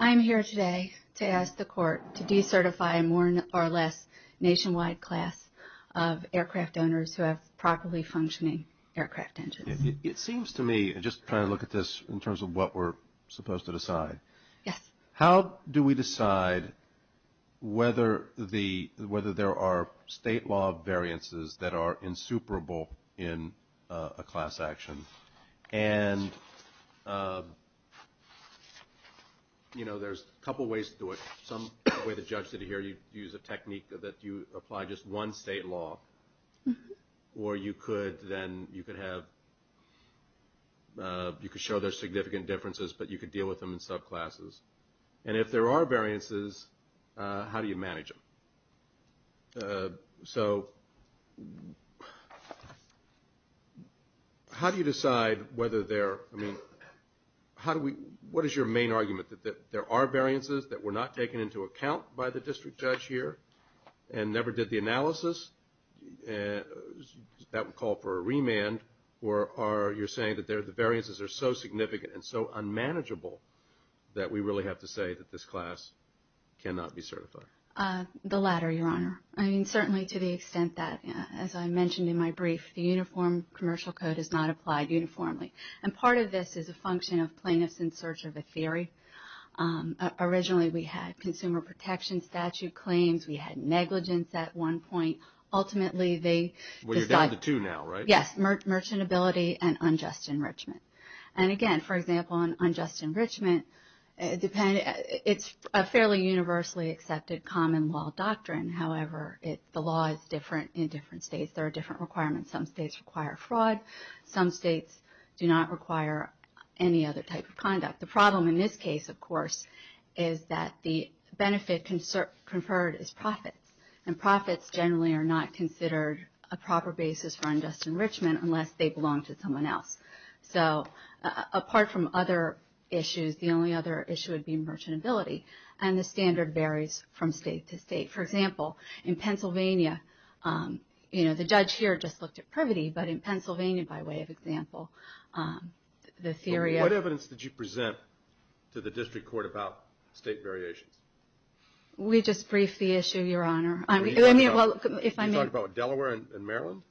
I'm here today to ask the court to decertify a more or less nationwide class of aircraft owners who have properly functioning aircraft engines. It seems to me, just trying to look at this in terms of what we're supposed to decide, how do we decide whether there are state law variances that are insuperable in a class action? And, you know, there's a couple ways to do it. Some way the judge did it here, you use a technique that you apply just one state law, or you could then, you could have, you could show there's significant differences, but you could deal with them in subclasses. And if there are variances, how do you manage them? So, how do you decide whether there, I mean, how do we, what is your main argument, that there are variances that were not taken into account by the district judge here, and never did the analysis, that would call for a remand, or are you saying that the variances are so significant and so unmanageable that we really have to say that this class cannot be certified? The latter, Your Honor. I mean, certainly to the extent that, as I mentioned in my brief, the Uniform Commercial Code is not applied uniformly. And part of this is a function of plaintiffs in search of a theory. Originally, we had consumer protection statute claims. We had negligence at one point. Ultimately, they... Well, you're down to two now, right? Yes, merchantability and unjust enrichment. And again, for example, on unjust enrichment, it's a fairly universally accepted common law doctrine. However, the law is different in different states. There are different requirements. Some states require fraud. Some states do not require any other type of conduct. The problem in this case, of course, is that the benefit conferred is profits. And profits generally are not considered a proper basis for unjust enrichment unless they belong to someone else. So apart from other issues, the only other issue would be merchantability. And the standard varies from state to state. For example, in Pennsylvania, you know, the judge here just looked at privity. But in Pennsylvania, by way of example, the theory of... What evidence did you present to the district court about state variations? We just briefed the issue, Your Honor. You talked about Delaware and Maryland?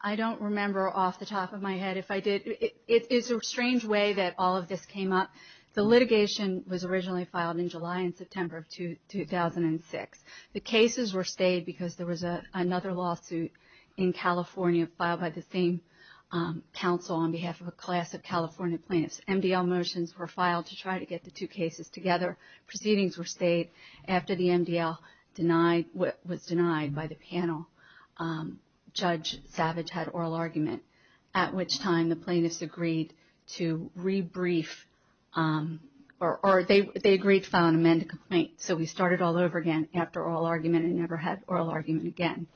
I don't remember off the top of my head if I did. It's a strange way that all of this came up. The litigation was originally filed in July and September of 2006. The cases were stayed because there was another lawsuit in California filed by the same council on behalf of a class of California plaintiffs. MDL motions were filed to try to get the two cases together. Proceedings were stayed after the MDL was denied by the panel. Judge Savage had oral argument, at which time the plaintiffs agreed to rebrief... Or they agreed to file an amended complaint. So we started all over again after oral argument and never had oral argument again.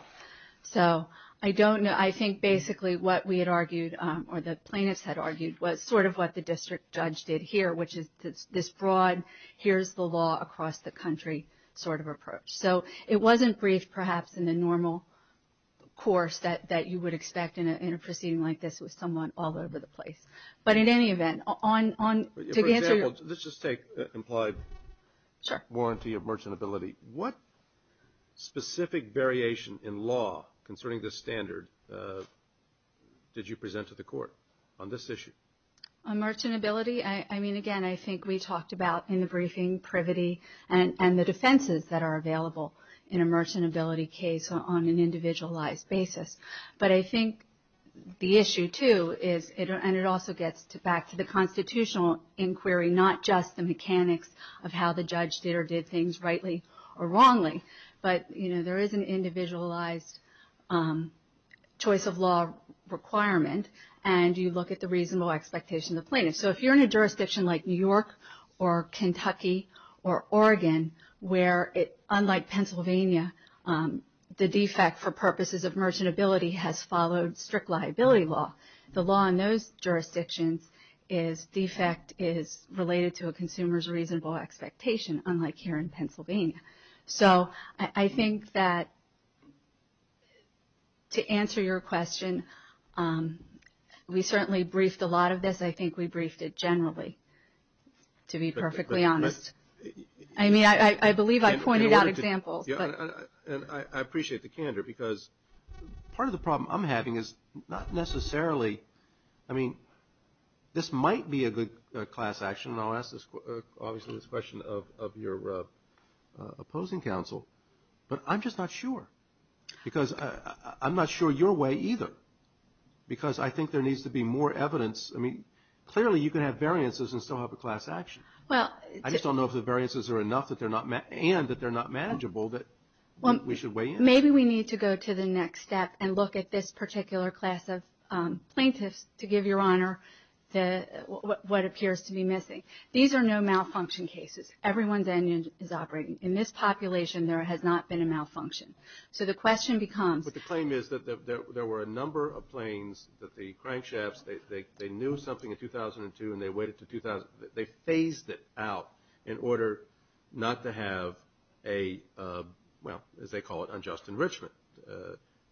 So I don't know. I think basically what we had argued or the plaintiffs had argued was sort of what the district judge did here, which is this broad, here's the law across the country sort of approach. So it wasn't briefed perhaps in the normal course that you would expect in a proceeding like this with someone all over the place. But in any event, on... For example, let's just take implied warranty of merchantability. What specific variation in law concerning this standard did you present to the court on this issue? On merchantability, I mean, again, I think we talked about in the briefing privity and the defenses that are available in a merchantability case on an individualized basis. But I think the issue too is, and it also gets back to the constitutional inquiry, not just the mechanics of how the judge did or did things rightly or wrongly, but there is an individualized choice of law requirement and you look at the reasonable expectation of the plaintiff. So if you're in a jurisdiction like New York or Kentucky or Oregon, where unlike Pennsylvania, the defect for purposes of merchantability has followed strict liability law. The law in those jurisdictions is defect is related So I think that to answer your question, we certainly briefed a lot of this. I think we briefed it generally, to be perfectly honest. I mean, I believe I pointed out examples. And I appreciate the candor, because part of the problem I'm having is not necessarily... I mean, this might be a good class action. And I'll ask this question of your opposing counsel. But I'm just not sure. Because I'm not sure your way either. Because I think there needs to be more evidence. I mean, clearly you can have variances and still have a class action. Well... I just don't know if the variances are enough and that they're not manageable that we should weigh in. and look at this particular class of plaintiffs to give your honor what appears to be missing. These are no malfunction cases. Everyone's engine is operating. In this population, there has not been a malfunction. So the question becomes... But the claim is that there were a number of planes that the crankshafts, they knew something in 2002 and they weighed it to 2000. They phased it out in order not to have a, well, as they call it, unjust enrichment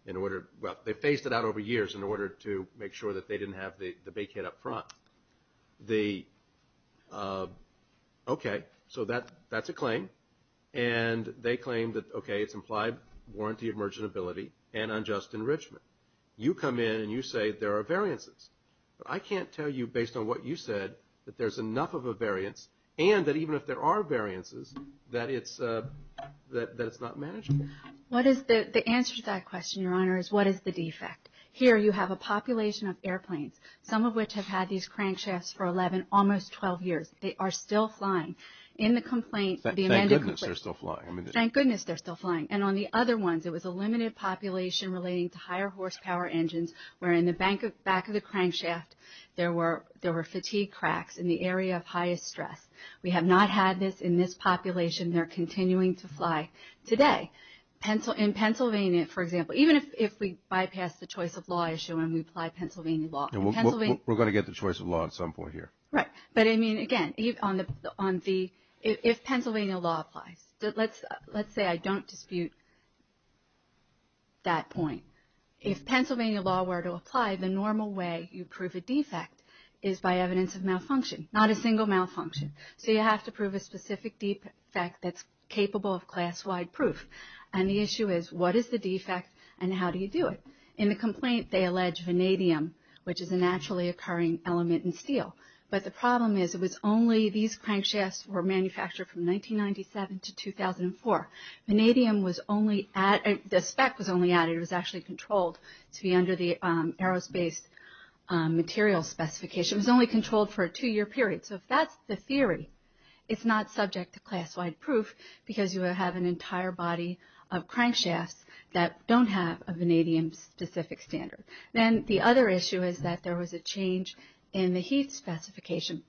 in order... Well, they phased it out over years in order to make sure that they didn't have the big hit up front. The... Okay. So that's a claim. And they claim that, okay, it's implied warranty of merchantability and unjust enrichment. You come in and you say there are variances. But I can't tell you based on what you said that there's enough of a variance and that even if there are variances that it's not manageable. What is the answer to that question, your honor, is what is the defect? Here, you have a population of airplanes, some of which have had these crankshafts for 11, almost 12 years. They are still flying. In the complaint... Thank goodness they're still flying. Thank goodness they're still flying. And on the other ones, it was a limited population relating to higher horsepower engines where in the back of the crankshaft, there were fatigue cracks in the area of highest stress. We have not had this in this population. They're continuing to fly. Today, in Pennsylvania, for example, even if we bypass the choice of law issue when we apply Pennsylvania law... We're going to get the choice of law at some point here. Right, but I mean, again, if Pennsylvania law applies, let's say I don't dispute that point. If Pennsylvania law were to apply, the normal way you prove a defect is by evidence of malfunction, not a single malfunction. So you have to prove a specific defect that's capable of class-wide proof. And the issue is, what is the defect and how do you do it? In the complaint, they allege vanadium, which is a naturally occurring element in steel. But the problem is it was only... These crankshafts were manufactured from 1997 to 2004. Vanadium was only at... The spec was only added. It was actually controlled to be under the aerospace material specification. It was only controlled for a two-year period. So if that's the theory, it's not subject to class-wide proof because you have an entire body of crankshafts that don't have a vanadium-specific standard. Then the other issue is that there was a change in the heat specification,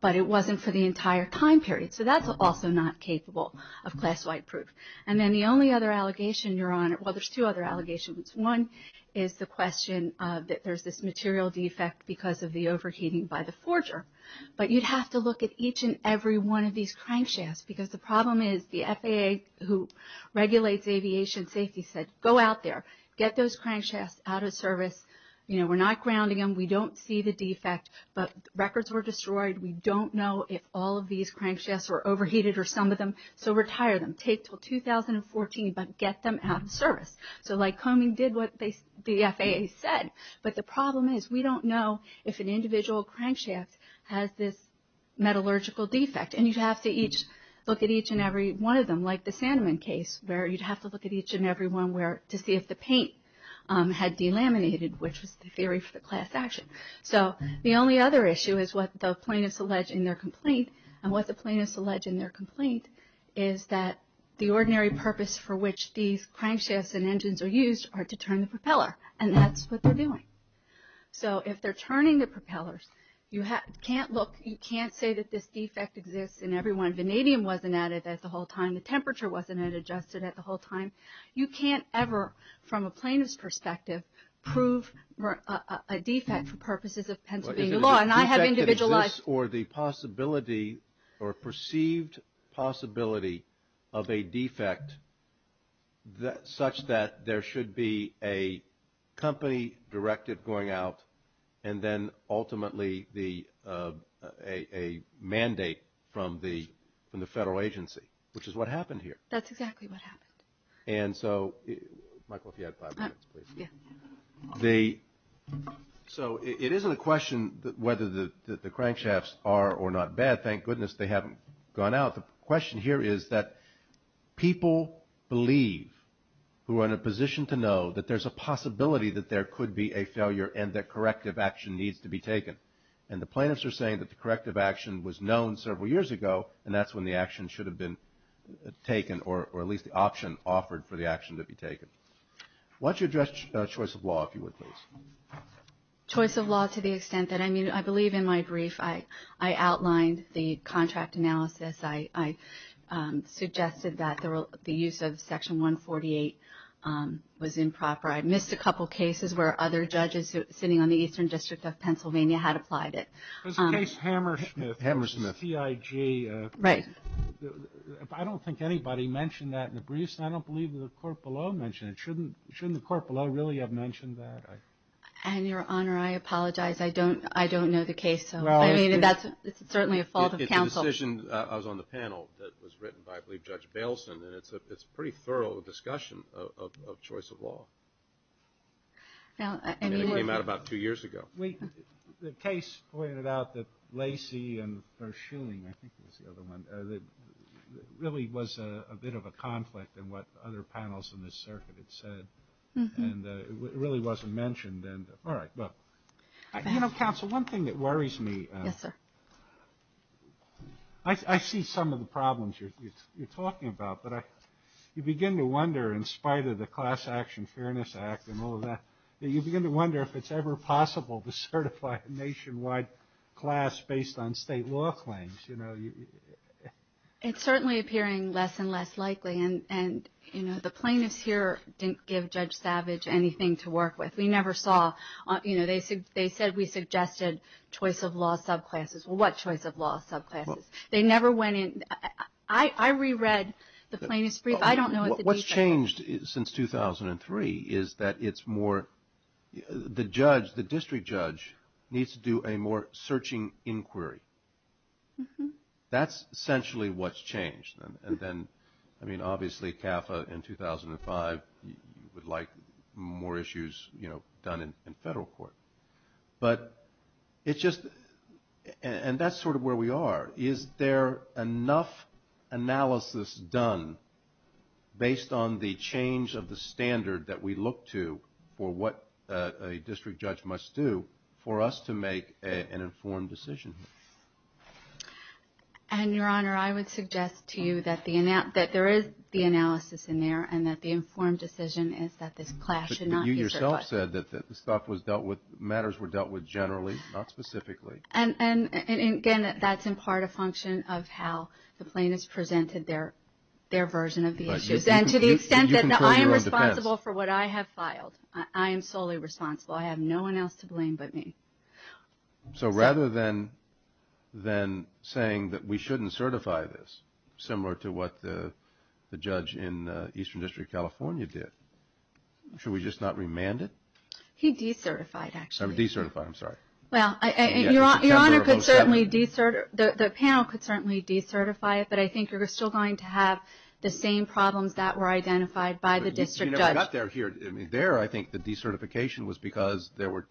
but it wasn't for the entire time period. So that's also not capable of class-wide proof. And then the only other allegation you're on... Well, there's two other allegations. One is the question that there's this material defect because of the overheating by the forger. But you'd have to look at each and every one of these crankshafts because the problem is the FAA who regulates aviation safety said, go out there, get those crankshafts out of service. We're not grounding them. We don't see the defect, but records were destroyed. We don't know if all of these crankshafts were overheated or some of them, so retire them. Take till 2014, but get them out of service. So Lycoming did what the FAA said, but the problem is we don't know if an individual crankshaft has this metallurgical defect. And you'd have to look at each and every one of them, like the Sandman case, where you'd have to look at each and every one to see if the paint had delaminated, which was the theory for the class action. So the only other issue is what the plaintiffs allege in their complaint. And what the plaintiffs allege in their complaint is that the ordinary purpose for which these crankshafts and engines are used are to turn the propeller. And that's what they're doing. So if they're turning the propellers, you can't look, you can't say that this defect exists in every one. Vanadium wasn't added at the whole time. The temperature wasn't adjusted at the whole time. You can't ever, from a plaintiff's perspective, prove a defect for purposes of Pennsylvania law. And I have individualized. Or the possibility or perceived possibility of a defect such that there should be a company directive going out and then ultimately a mandate from the federal agency, which is what happened here. That's exactly what happened. And so, Michael, if you had five minutes, please. Yeah. So it isn't a question whether the crankshafts are or not bad. Thank goodness they haven't gone out. The question here is that people believe who are in a position to know that there's a possibility that there could be a failure and that corrective action needs to be taken. And the plaintiffs are saying that the corrective action was known several years ago, and that's when the action should have been taken, or at least the option offered for the action to be taken. Why don't you address choice of law, if you would, please. Choice of law to the extent that, I mean, I believe in my brief, I outlined the contract analysis. I suggested that the use of Section 148 was improper. I missed a couple cases where other judges sitting on the Eastern District of Pennsylvania had applied it. There's a case, Hammersmith. Hammersmith. CIG. Right. I don't think anybody mentioned that in the briefs, and I don't believe that the court below mentioned it. Shouldn't the court below really have mentioned that? And, Your Honor, I apologize. I don't know the case, so. I mean, that's certainly a fault of counsel. It's a decision that was on the panel that was written by, I believe, Judge Bailson, and it's a pretty thorough discussion of choice of law. And it came out about two years ago. Wait, the case pointed out that Lacey and Burr-Schuling, I think it was the other one, really was a bit of a conflict in what other panels in this circuit had said, and it really wasn't mentioned. All right, well, you know, counsel, one thing that worries me. Yes, sir. I see some of the problems you're talking about, but you begin to wonder, in spite of the Class Action Fairness Act and all of that, you begin to wonder if it's ever possible to certify a nationwide class based on state law claims. It's certainly appearing less and less likely, and the plaintiffs here didn't give Judge Savage anything to work with. We never saw, you know, they said we suggested choice of law subclasses. Well, what choice of law subclasses? They never went in. I reread the plaintiff's brief. I don't know if the defense- What's changed since 2003 is that it's more, the judge, the district judge, needs to do a more searching inquiry. That's essentially what's changed. And then, I mean, obviously CAFA in 2005, you would like more issues, you know, done in federal court. But it's just, and that's sort of where we are. Is there enough analysis done based on the change of the standard that we look to for what a district judge must do for us to make an informed decision? And, Your Honor, I would suggest to you that there is the analysis in there, and that the informed decision is that this class should not be certified. But you yourself said that this stuff was dealt with, matters were dealt with generally, not specifically. And, again, that's in part a function of how the plaintiffs presented their version of the issues. And to the extent that I am responsible for what I have filed, I am solely responsible. I have no one else to blame but me. So rather than saying that we shouldn't certify this, similar to what the judge in Eastern District of California did, should we just not remand it? He decertified, actually. I'm decertifying, I'm sorry. Well, Your Honor, the panel could certainly decertify it, but I think you're still going to have the same problems that were identified by the district judge. We never got there here. I mean, there, I think the decertification was because there were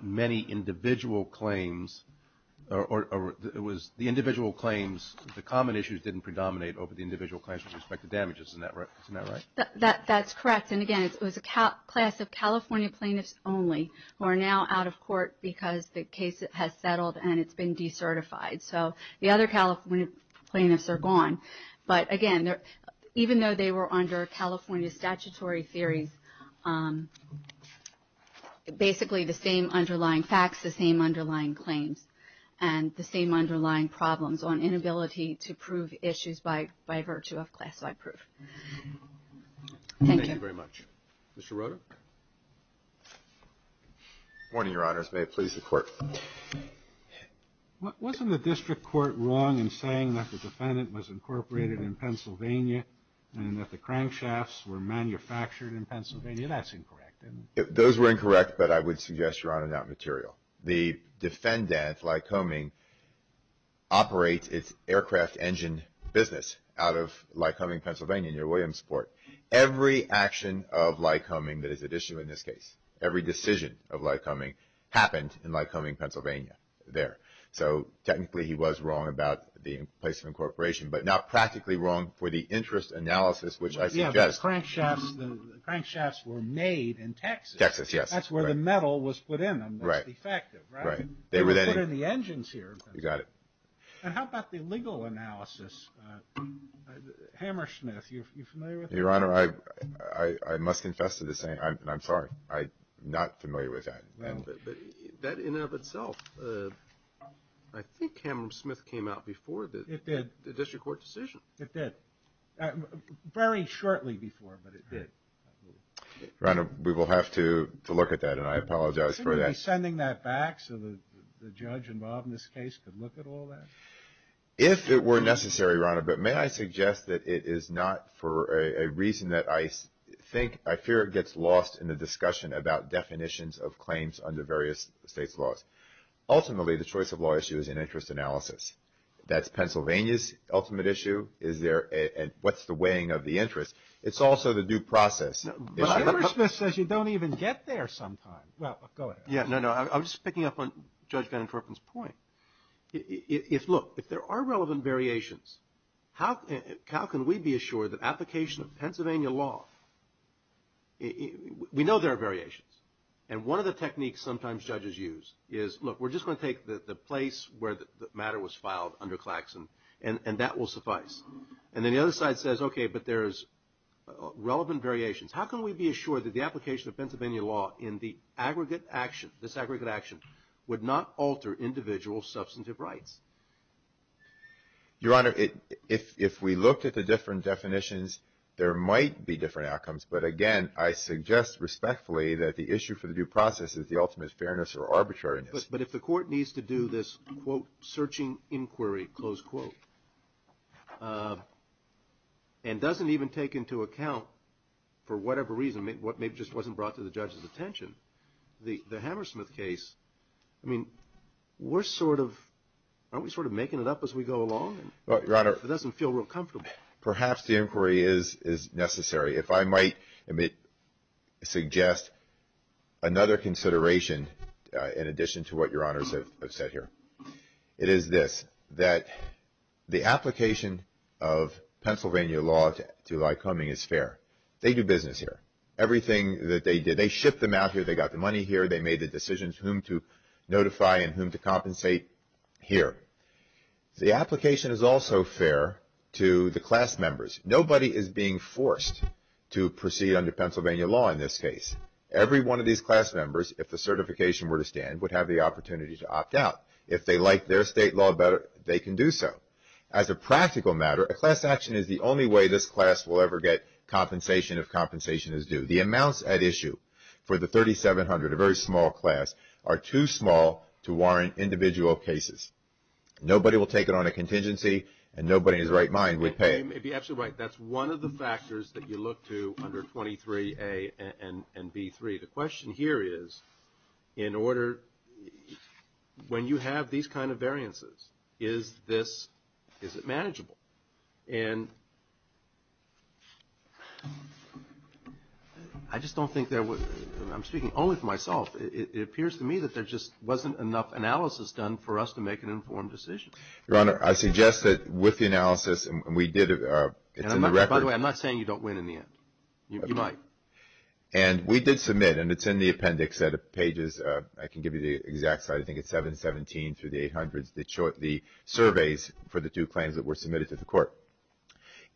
many individual claims, or it was the individual claims, the common issues didn't predominate over the individual claims with respect to damages. Isn't that right? That's correct. And, again, it was a class of California plaintiffs only who are now out of court because the case has settled and it's been decertified. So the other California plaintiffs are gone. But, again, even though they were under California statutory theories, basically the same underlying facts, the same underlying claims, and the same underlying problems on inability to prove issues by virtue of class-wide proof. Thank you. Thank you very much. Mr. Rota? Good morning, Your Honors. May it please the Court. Wasn't the district court wrong in saying that the defendant was incorporated in Pennsylvania and that the crankshafts were manufactured in Pennsylvania? That's incorrect, isn't it? Those were incorrect, but I would suggest, Your Honor, that material. The defendant, Lycoming, operates its aircraft engine business out of Lycoming, Pennsylvania near Williamsport. Every action of Lycoming that is at issue in this case, every decision of Lycoming, happened in Lycoming, Pennsylvania, there. So, technically, he was wrong about the placement of incorporation, but not practically wrong for the interest analysis, which I suggest. Yeah, the crankshafts were made in Texas. Texas, yes. That's where the metal was put in them. Right. That's defective, right? Right. They were then put in the engines here. You got it. And how about the legal analysis? Hammersmith, you familiar with that? Your Honor, I must confess to the saying, and I'm sorry, I'm not familiar with that. No. But that in and of itself, I think Hammersmith came out before the It did. The district court decision. It did. Very shortly before, but it did. Your Honor, we will have to look at that, and I apologize for that. Shouldn't we be sending that back so the judge involved in this case could look at all that? If it were necessary, Your Honor, but may I suggest that it is not for a reason that I think, I fear it gets lost in the discussion about definitions of claims under various states' laws. Ultimately, the choice of law issue is an interest analysis. That's Pennsylvania's ultimate issue, is there, and what's the weighing of the interest. It's also the due process issue. But Hammersmith says you don't even get there sometimes. Well, go ahead. Yeah, no, no. I'm just picking up on Judge Van Korpen's point. If, look, if there are relevant variations, how can we be assured that application of Pennsylvania law, we know there are variations, and one of the techniques sometimes judges use is, look, we're just gonna take the place where the matter was filed under Claxon, and that will suffice. And then the other side says, okay, but there's relevant variations. How can we be assured that the application of Pennsylvania law in the aggregate action, this aggregate action, would not alter individual substantive rights? Your Honor, if we looked at the different definitions, there might be different outcomes, but again, I suggest respectfully that the issue for the due process is the ultimate fairness or arbitrariness. But if the court needs to do this, quote, searching inquiry, close quote, and doesn't even take into account, for whatever reason, maybe it just wasn't brought to the judge's attention, the Hammersmith case, I mean, we're sort of, aren't we sort of making it up as we go along? Well, Your Honor. It doesn't feel real comfortable. Perhaps the inquiry is necessary. If I might suggest another consideration in addition to what Your Honors have said here, it is this, that the application of Pennsylvania law to Lycoming is fair. They do business here. Everything that they did, they shipped them out here, they got the money here, they made the decisions whom to notify and whom to compensate here. The application is also fair to the class members. Nobody is being forced to proceed under Pennsylvania law in this case. Every one of these class members, if the certification were to stand, would have the opportunity to opt out. If they like their state law better, they can do so. As a practical matter, a class action is the only way this class will ever get compensation if compensation is due. The amounts at issue for the 3,700, a very small class, are too small to warrant individual cases. Nobody will take it on a contingency and nobody in his right mind would pay it. You may be absolutely right. That's one of the factors that you look to under 23A and B3. The question here is, in order, when you have these kind of variances, is this, is it manageable? And I just don't think there would, I'm speaking only for myself, it appears to me that there just wasn't enough analysis done for us to make an informed decision. Your Honor, I suggest that with the analysis, and we did, it's in the record. By the way, I'm not saying you don't win in the end. You might. And we did submit, and it's in the appendix set of pages, I can give you the exact site, I think it's 717 through the 800s, the surveys for the two claims that were submitted to the court.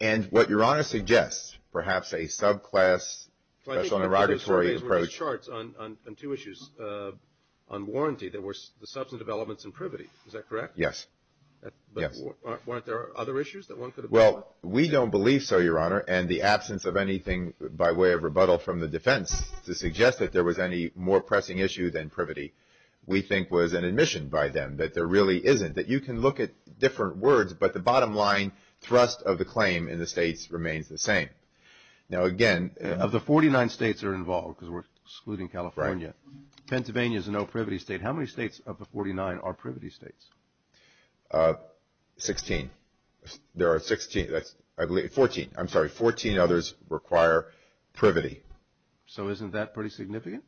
And what Your Honor suggests, perhaps a subclass special interrogatory approach. The surveys were just charts on two issues. On warranty, there were substantive elements in privity. Is that correct? Yes. Yes. But weren't there other issues that one could have brought up? Well, we don't believe so, Your Honor, and the absence of anything by way of rebuttal from the defense to suggest that there was any more pressing issue than privity, we think was an admission by them that there really isn't. That you can look at different words, but the bottom line thrust of the claim in the states remains the same. Now again... Of the 49 states that are involved, because we're excluding California, Pennsylvania is a no privity state. How many states of the 49 are privity states? 16. There are 16, I believe, 14. I'm sorry, 14 others require privity. So isn't that pretty significant?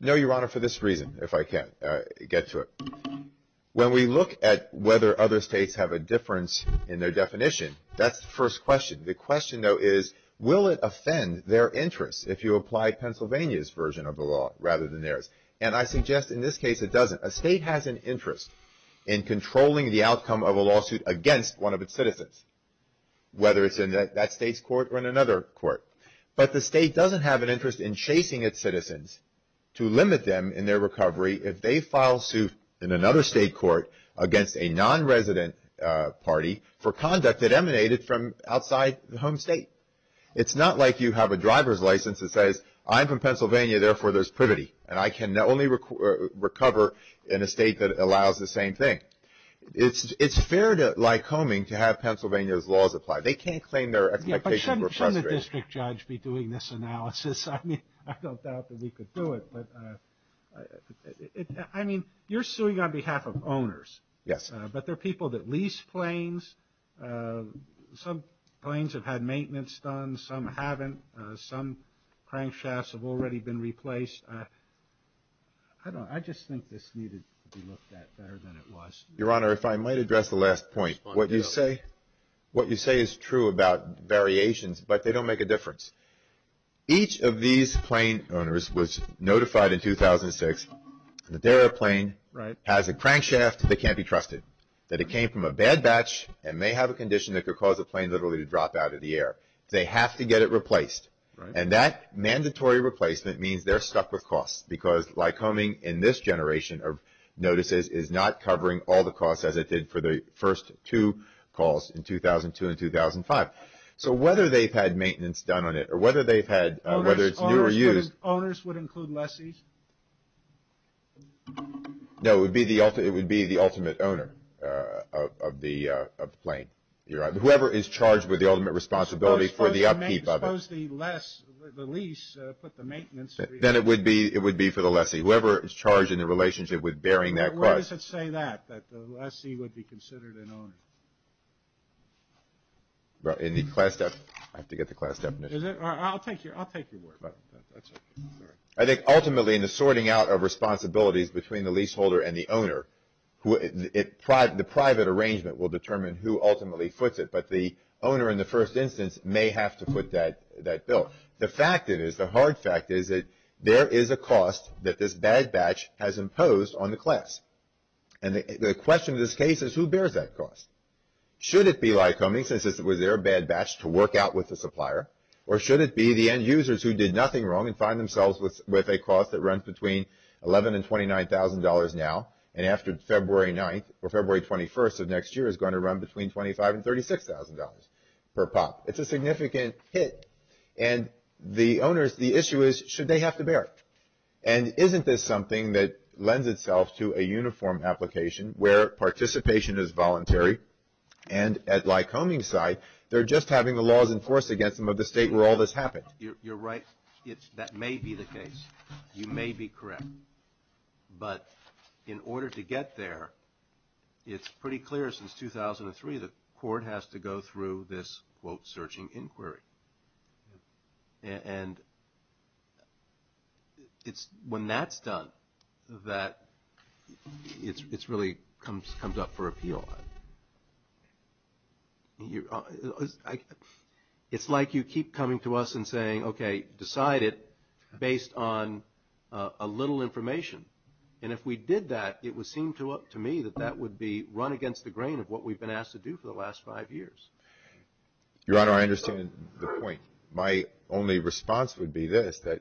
No, Your Honor, for this reason, if I can get to it. When we look at whether other states have a difference in their definition, that's the first question. The question though is, will it offend their interests if you apply Pennsylvania's version of the law rather than theirs? And I suggest in this case it doesn't. A state has an interest in controlling the outcome of a lawsuit against one of its citizens, whether it's in that state's court or in another court. But the state doesn't have an interest in chasing its citizens to limit them in their recovery if they file suit in another state court against a non-resident party for conduct that emanated from outside the home state. It's not like you have a driver's license that says, I'm from Pennsylvania, therefore there's privity, and I can only recover in a state that allows the same thing. It's fair to Lycoming to have Pennsylvania's laws applied. They can't claim their expectations were frustrated. Shouldn't the district judge be doing this analysis? I mean, I don't doubt that we could do it, but I mean, you're suing on behalf of owners. Yes. But there are people that lease planes. Some planes have had maintenance done. Some haven't. Some crankshafts have already been replaced. I don't know. I just think this needed to be looked at better than it was. Your Honor, if I might address the last point. What you say is true about variations, but they don't make a difference. Each of these plane owners was notified in 2006 that their plane has a crankshaft that can't be trusted, that it came from a bad batch and may have a condition that could cause a plane literally to drop out of the air. They have to get it replaced, and that mandatory replacement means they're stuck with costs because Lycoming in this generation of notices is not covering all the costs as it did for the first two calls in 2002 and 2005. So whether they've had maintenance done on it, or whether they've had, whether it's new or used. Owners would include lessees? No, it would be the ultimate owner of the plane. Your Honor, whoever is charged with the ultimate responsibility for the upkeep of it. Suppose the lease put the maintenance... Then it would be for the lessee. Whoever is charged in the relationship with bearing that cost. But why does it say that, that the lessee would be considered an owner? Well, in the class definition. I have to get the class definition. Is it? I'll take your word for it. That's okay, sorry. I think ultimately, in the sorting out of responsibilities between the leaseholder and the owner, the private arrangement will determine who ultimately foots it. But the owner in the first instance may have to foot that bill. The fact is, the hard fact is that there is a cost that this bad batch has imposed on the class. And the question of this case is, who bears that cost? Should it be Lycoming, since it was their bad batch to work out with the supplier? Or should it be the end users who did nothing wrong and find themselves with a cost that runs between $11,000 and $29,000 now, and after February 9th, or February 21st of next year, is going to run between $25,000 and $36,000 per pop? It's a significant hit. And the owners, the issue is, should they have to bear? And isn't this something that lends itself to a uniform application where participation is voluntary? And at Lycoming's side, they're just having the laws enforced against them of the state where all this happened. You're right, that may be the case. You may be correct. But in order to get there, it's pretty clear since 2003, the court has to go through this, quote, searching inquiry. And it's when that's done that it really comes up for appeal. It's like you keep coming to us and saying, okay, decide it based on a little information. And if we did that, it would seem to me that that would be run against the grain of what we've been asked to do for the last five years. Your Honor, I understand the point. My only response would be this, that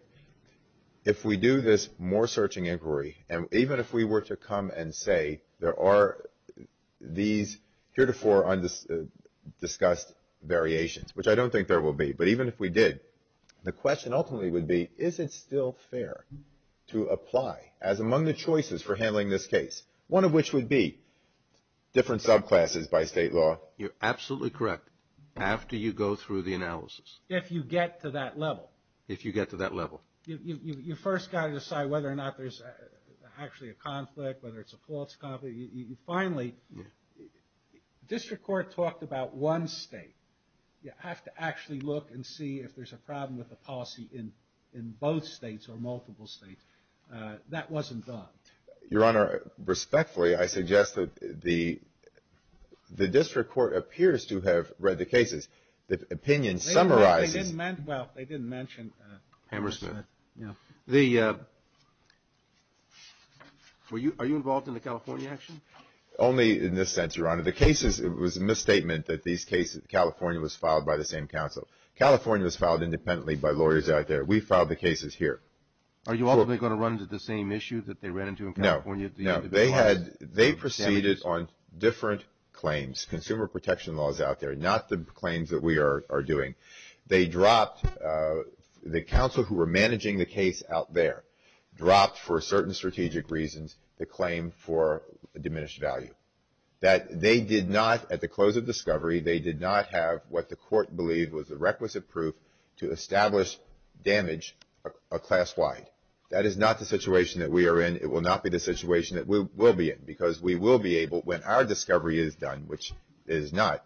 if we do this more searching inquiry, and even if we were to come and say there are these heretofore discussed variations, which I don't think there will be, but even if we did, the question ultimately would be, is it still fair to apply as among the choices for handling this case, one of which would be different subclasses by state law? You're absolutely correct after you go through the analysis. If you get to that level. If you get to that level. You first gotta decide whether or not there's actually a conflict, whether it's a false conflict. Finally, district court talked about one state. You have to actually look and see if there's a problem with the policy in both states or multiple states. That wasn't done. Your Honor, respectfully, I suggest that the district court appears to have read the cases. The opinion summarizes. Well, they didn't mention. Hammersmith. Are you involved in the California action? Only in this sense, Your Honor. The cases, it was a misstatement that these cases, California was filed by the same council. California was filed independently by lawyers out there. We filed the cases here. Are you ultimately gonna run into the same issue that they ran into in California? No, no. They proceeded on different claims. Consumer protection laws out there. Not the claims that we are doing. They dropped, the counsel who were managing the case out there dropped for certain strategic reasons the claim for diminished value. That they did not, at the close of discovery, they did not have what the court believed was the requisite proof to establish damage class-wide. That is not the situation that we are in. It will not be the situation that we will be in. Because we will be able, when our discovery is done, which it is not,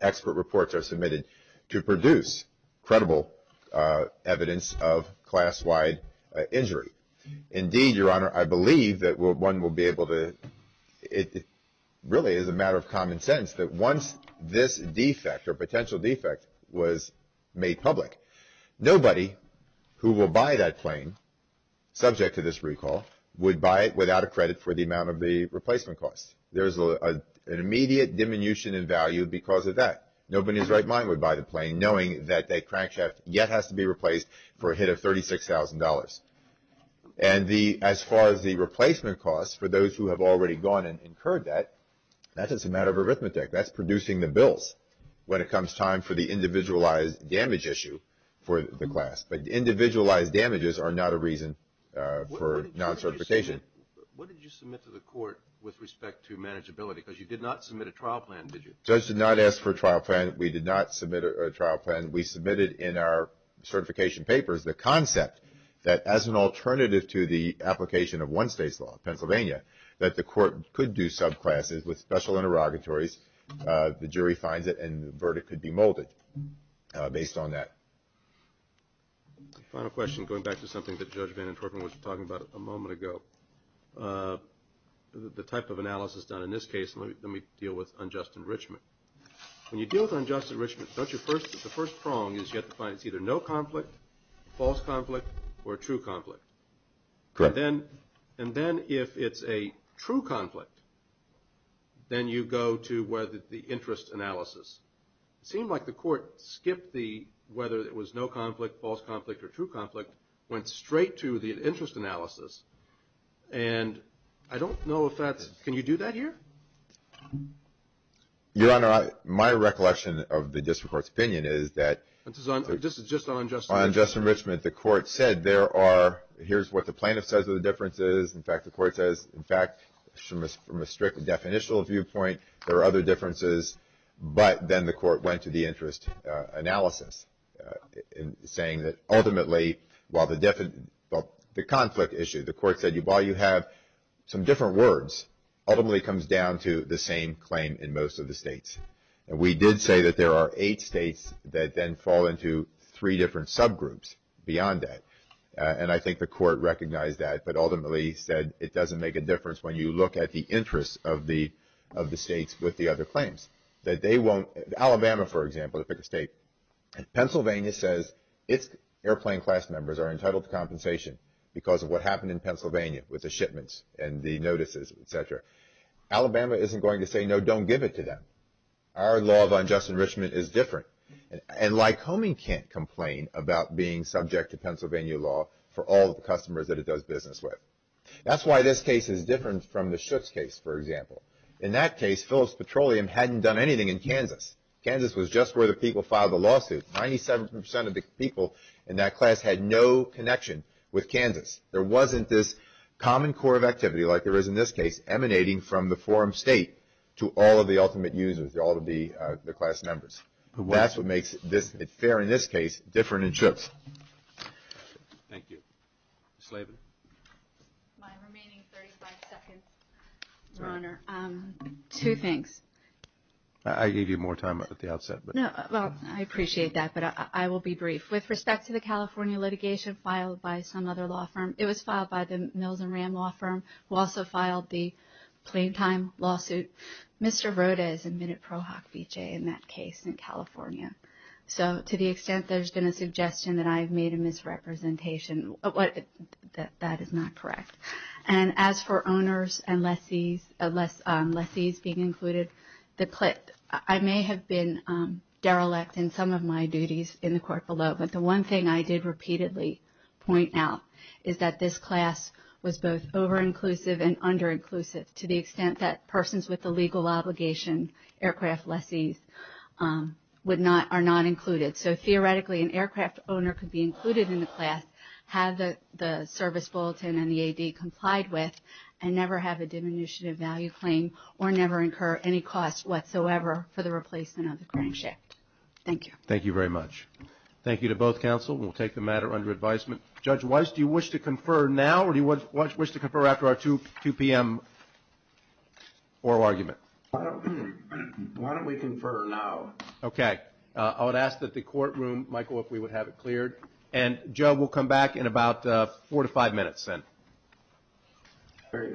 expert reports are submitted to produce credible evidence of class-wide injury. Indeed, Your Honor, I believe that one will be able to, it really is a matter of common sense that once this defect, or potential defect, was made public, nobody who will buy that plane, subject to this recall, would buy it without a credit for the amount of the replacement cost. There's an immediate diminution in value because of that. Nobody's right mind would buy the plane knowing that that crankshaft yet has to be replaced for a hit of $36,000. And as far as the replacement cost, for those who have already gone and incurred that, that's just a matter of arithmetic. That's producing the bills. When it comes time for the individualized damage issue for the class. But individualized damages are not a reason for non-certification. What did you submit to the court with respect to manageability? Because you did not submit a trial plan, did you? Judge did not ask for a trial plan. We did not submit a trial plan. We submitted in our certification papers the concept that as an alternative to the application of one state's law, Pennsylvania, that the court could do subclasses with special interrogatories. The jury finds it and the verdict could be molded based on that. Final question, going back to something that Judge Van Antwerpen was talking about a moment ago. The type of analysis done in this case, let me deal with unjust enrichment. When you deal with unjust enrichment, don't you first, the first prong is you have to find it's either no conflict, false conflict, or true conflict. Correct. And then if it's a true conflict, then you go to whether the interest analysis. It seemed like the court skipped the, whether it was no conflict, false conflict, or true conflict, went straight to the interest analysis. And I don't know if that's, can you do that here? Your Honor, my recollection of the district court's opinion is that... This is just on unjust enrichment. On unjust enrichment, the court said there are, here's what the plaintiff says are the differences. In fact, the court says, in fact, from a strict definitional viewpoint, there are other differences. But then the court went to the interest analysis saying that ultimately, while the conflict issue, the court said, while you have some different words, ultimately comes down to the same claim in most of the states. And we did say that there are eight states that then fall into three different subgroups beyond that. And I think the court recognized that, but ultimately said, it doesn't make a difference when you look at the interests of the states with the other claims. That they won't, Alabama, for example, the biggest state. Pennsylvania says, its airplane class members are entitled to compensation because of what happened in Pennsylvania with the shipments and the notices, et cetera. Alabama isn't going to say, no, don't give it to them. Our law of unjust enrichment is different. And Lycoming can't complain about being subject to Pennsylvania law for all the customers that it does business with. That's why this case is different from the Schutz case, for example. In that case, Phillips Petroleum hadn't done anything in Kansas. Kansas was just where the people filed the lawsuit. 97% of the people in that class had no connection with Kansas. There wasn't this common core of activity like there is in this case, emanating from the forum state to all of the ultimate users, all of the class members. That's what makes it fair in this case, different in Schutz. Thank you. Ms. Slavin. My remaining 35 seconds, Your Honor. Two things. I gave you more time at the outset, but. No, well, I appreciate that, but I will be brief. With respect to the California litigation filed by some other law firm, it was filed by the Mills and Ram law firm who also filed the plain time lawsuit. Mr. Roda is admitted pro hoc v. j. in that case in California. So to the extent there's been a suggestion that I've made a misrepresentation, that is not correct. And as for owners and lessees being included, the clip, I may have been derelict in some of my duties in the court below, but the one thing I did repeatedly point out is that this class was both over-inclusive and under-inclusive to the extent that persons with the legal obligation, aircraft lessees, are not included. So theoretically, an aircraft owner could be included in the class, have the service bulletin and the AD complied with, and never have a diminutive value claim or never incur any cost whatsoever for the replacement of the crankshaft. Thank you. Thank you very much. Thank you to both counsel. We'll take the matter under advisement. Judge Weiss, do you wish to confer now or do you wish to confer after our 2 p.m. oral argument? Why don't we confer now? Okay, I would ask that the courtroom, Michael, if we would have it cleared. And Joe, we'll come back in about four to five minutes then. Very good.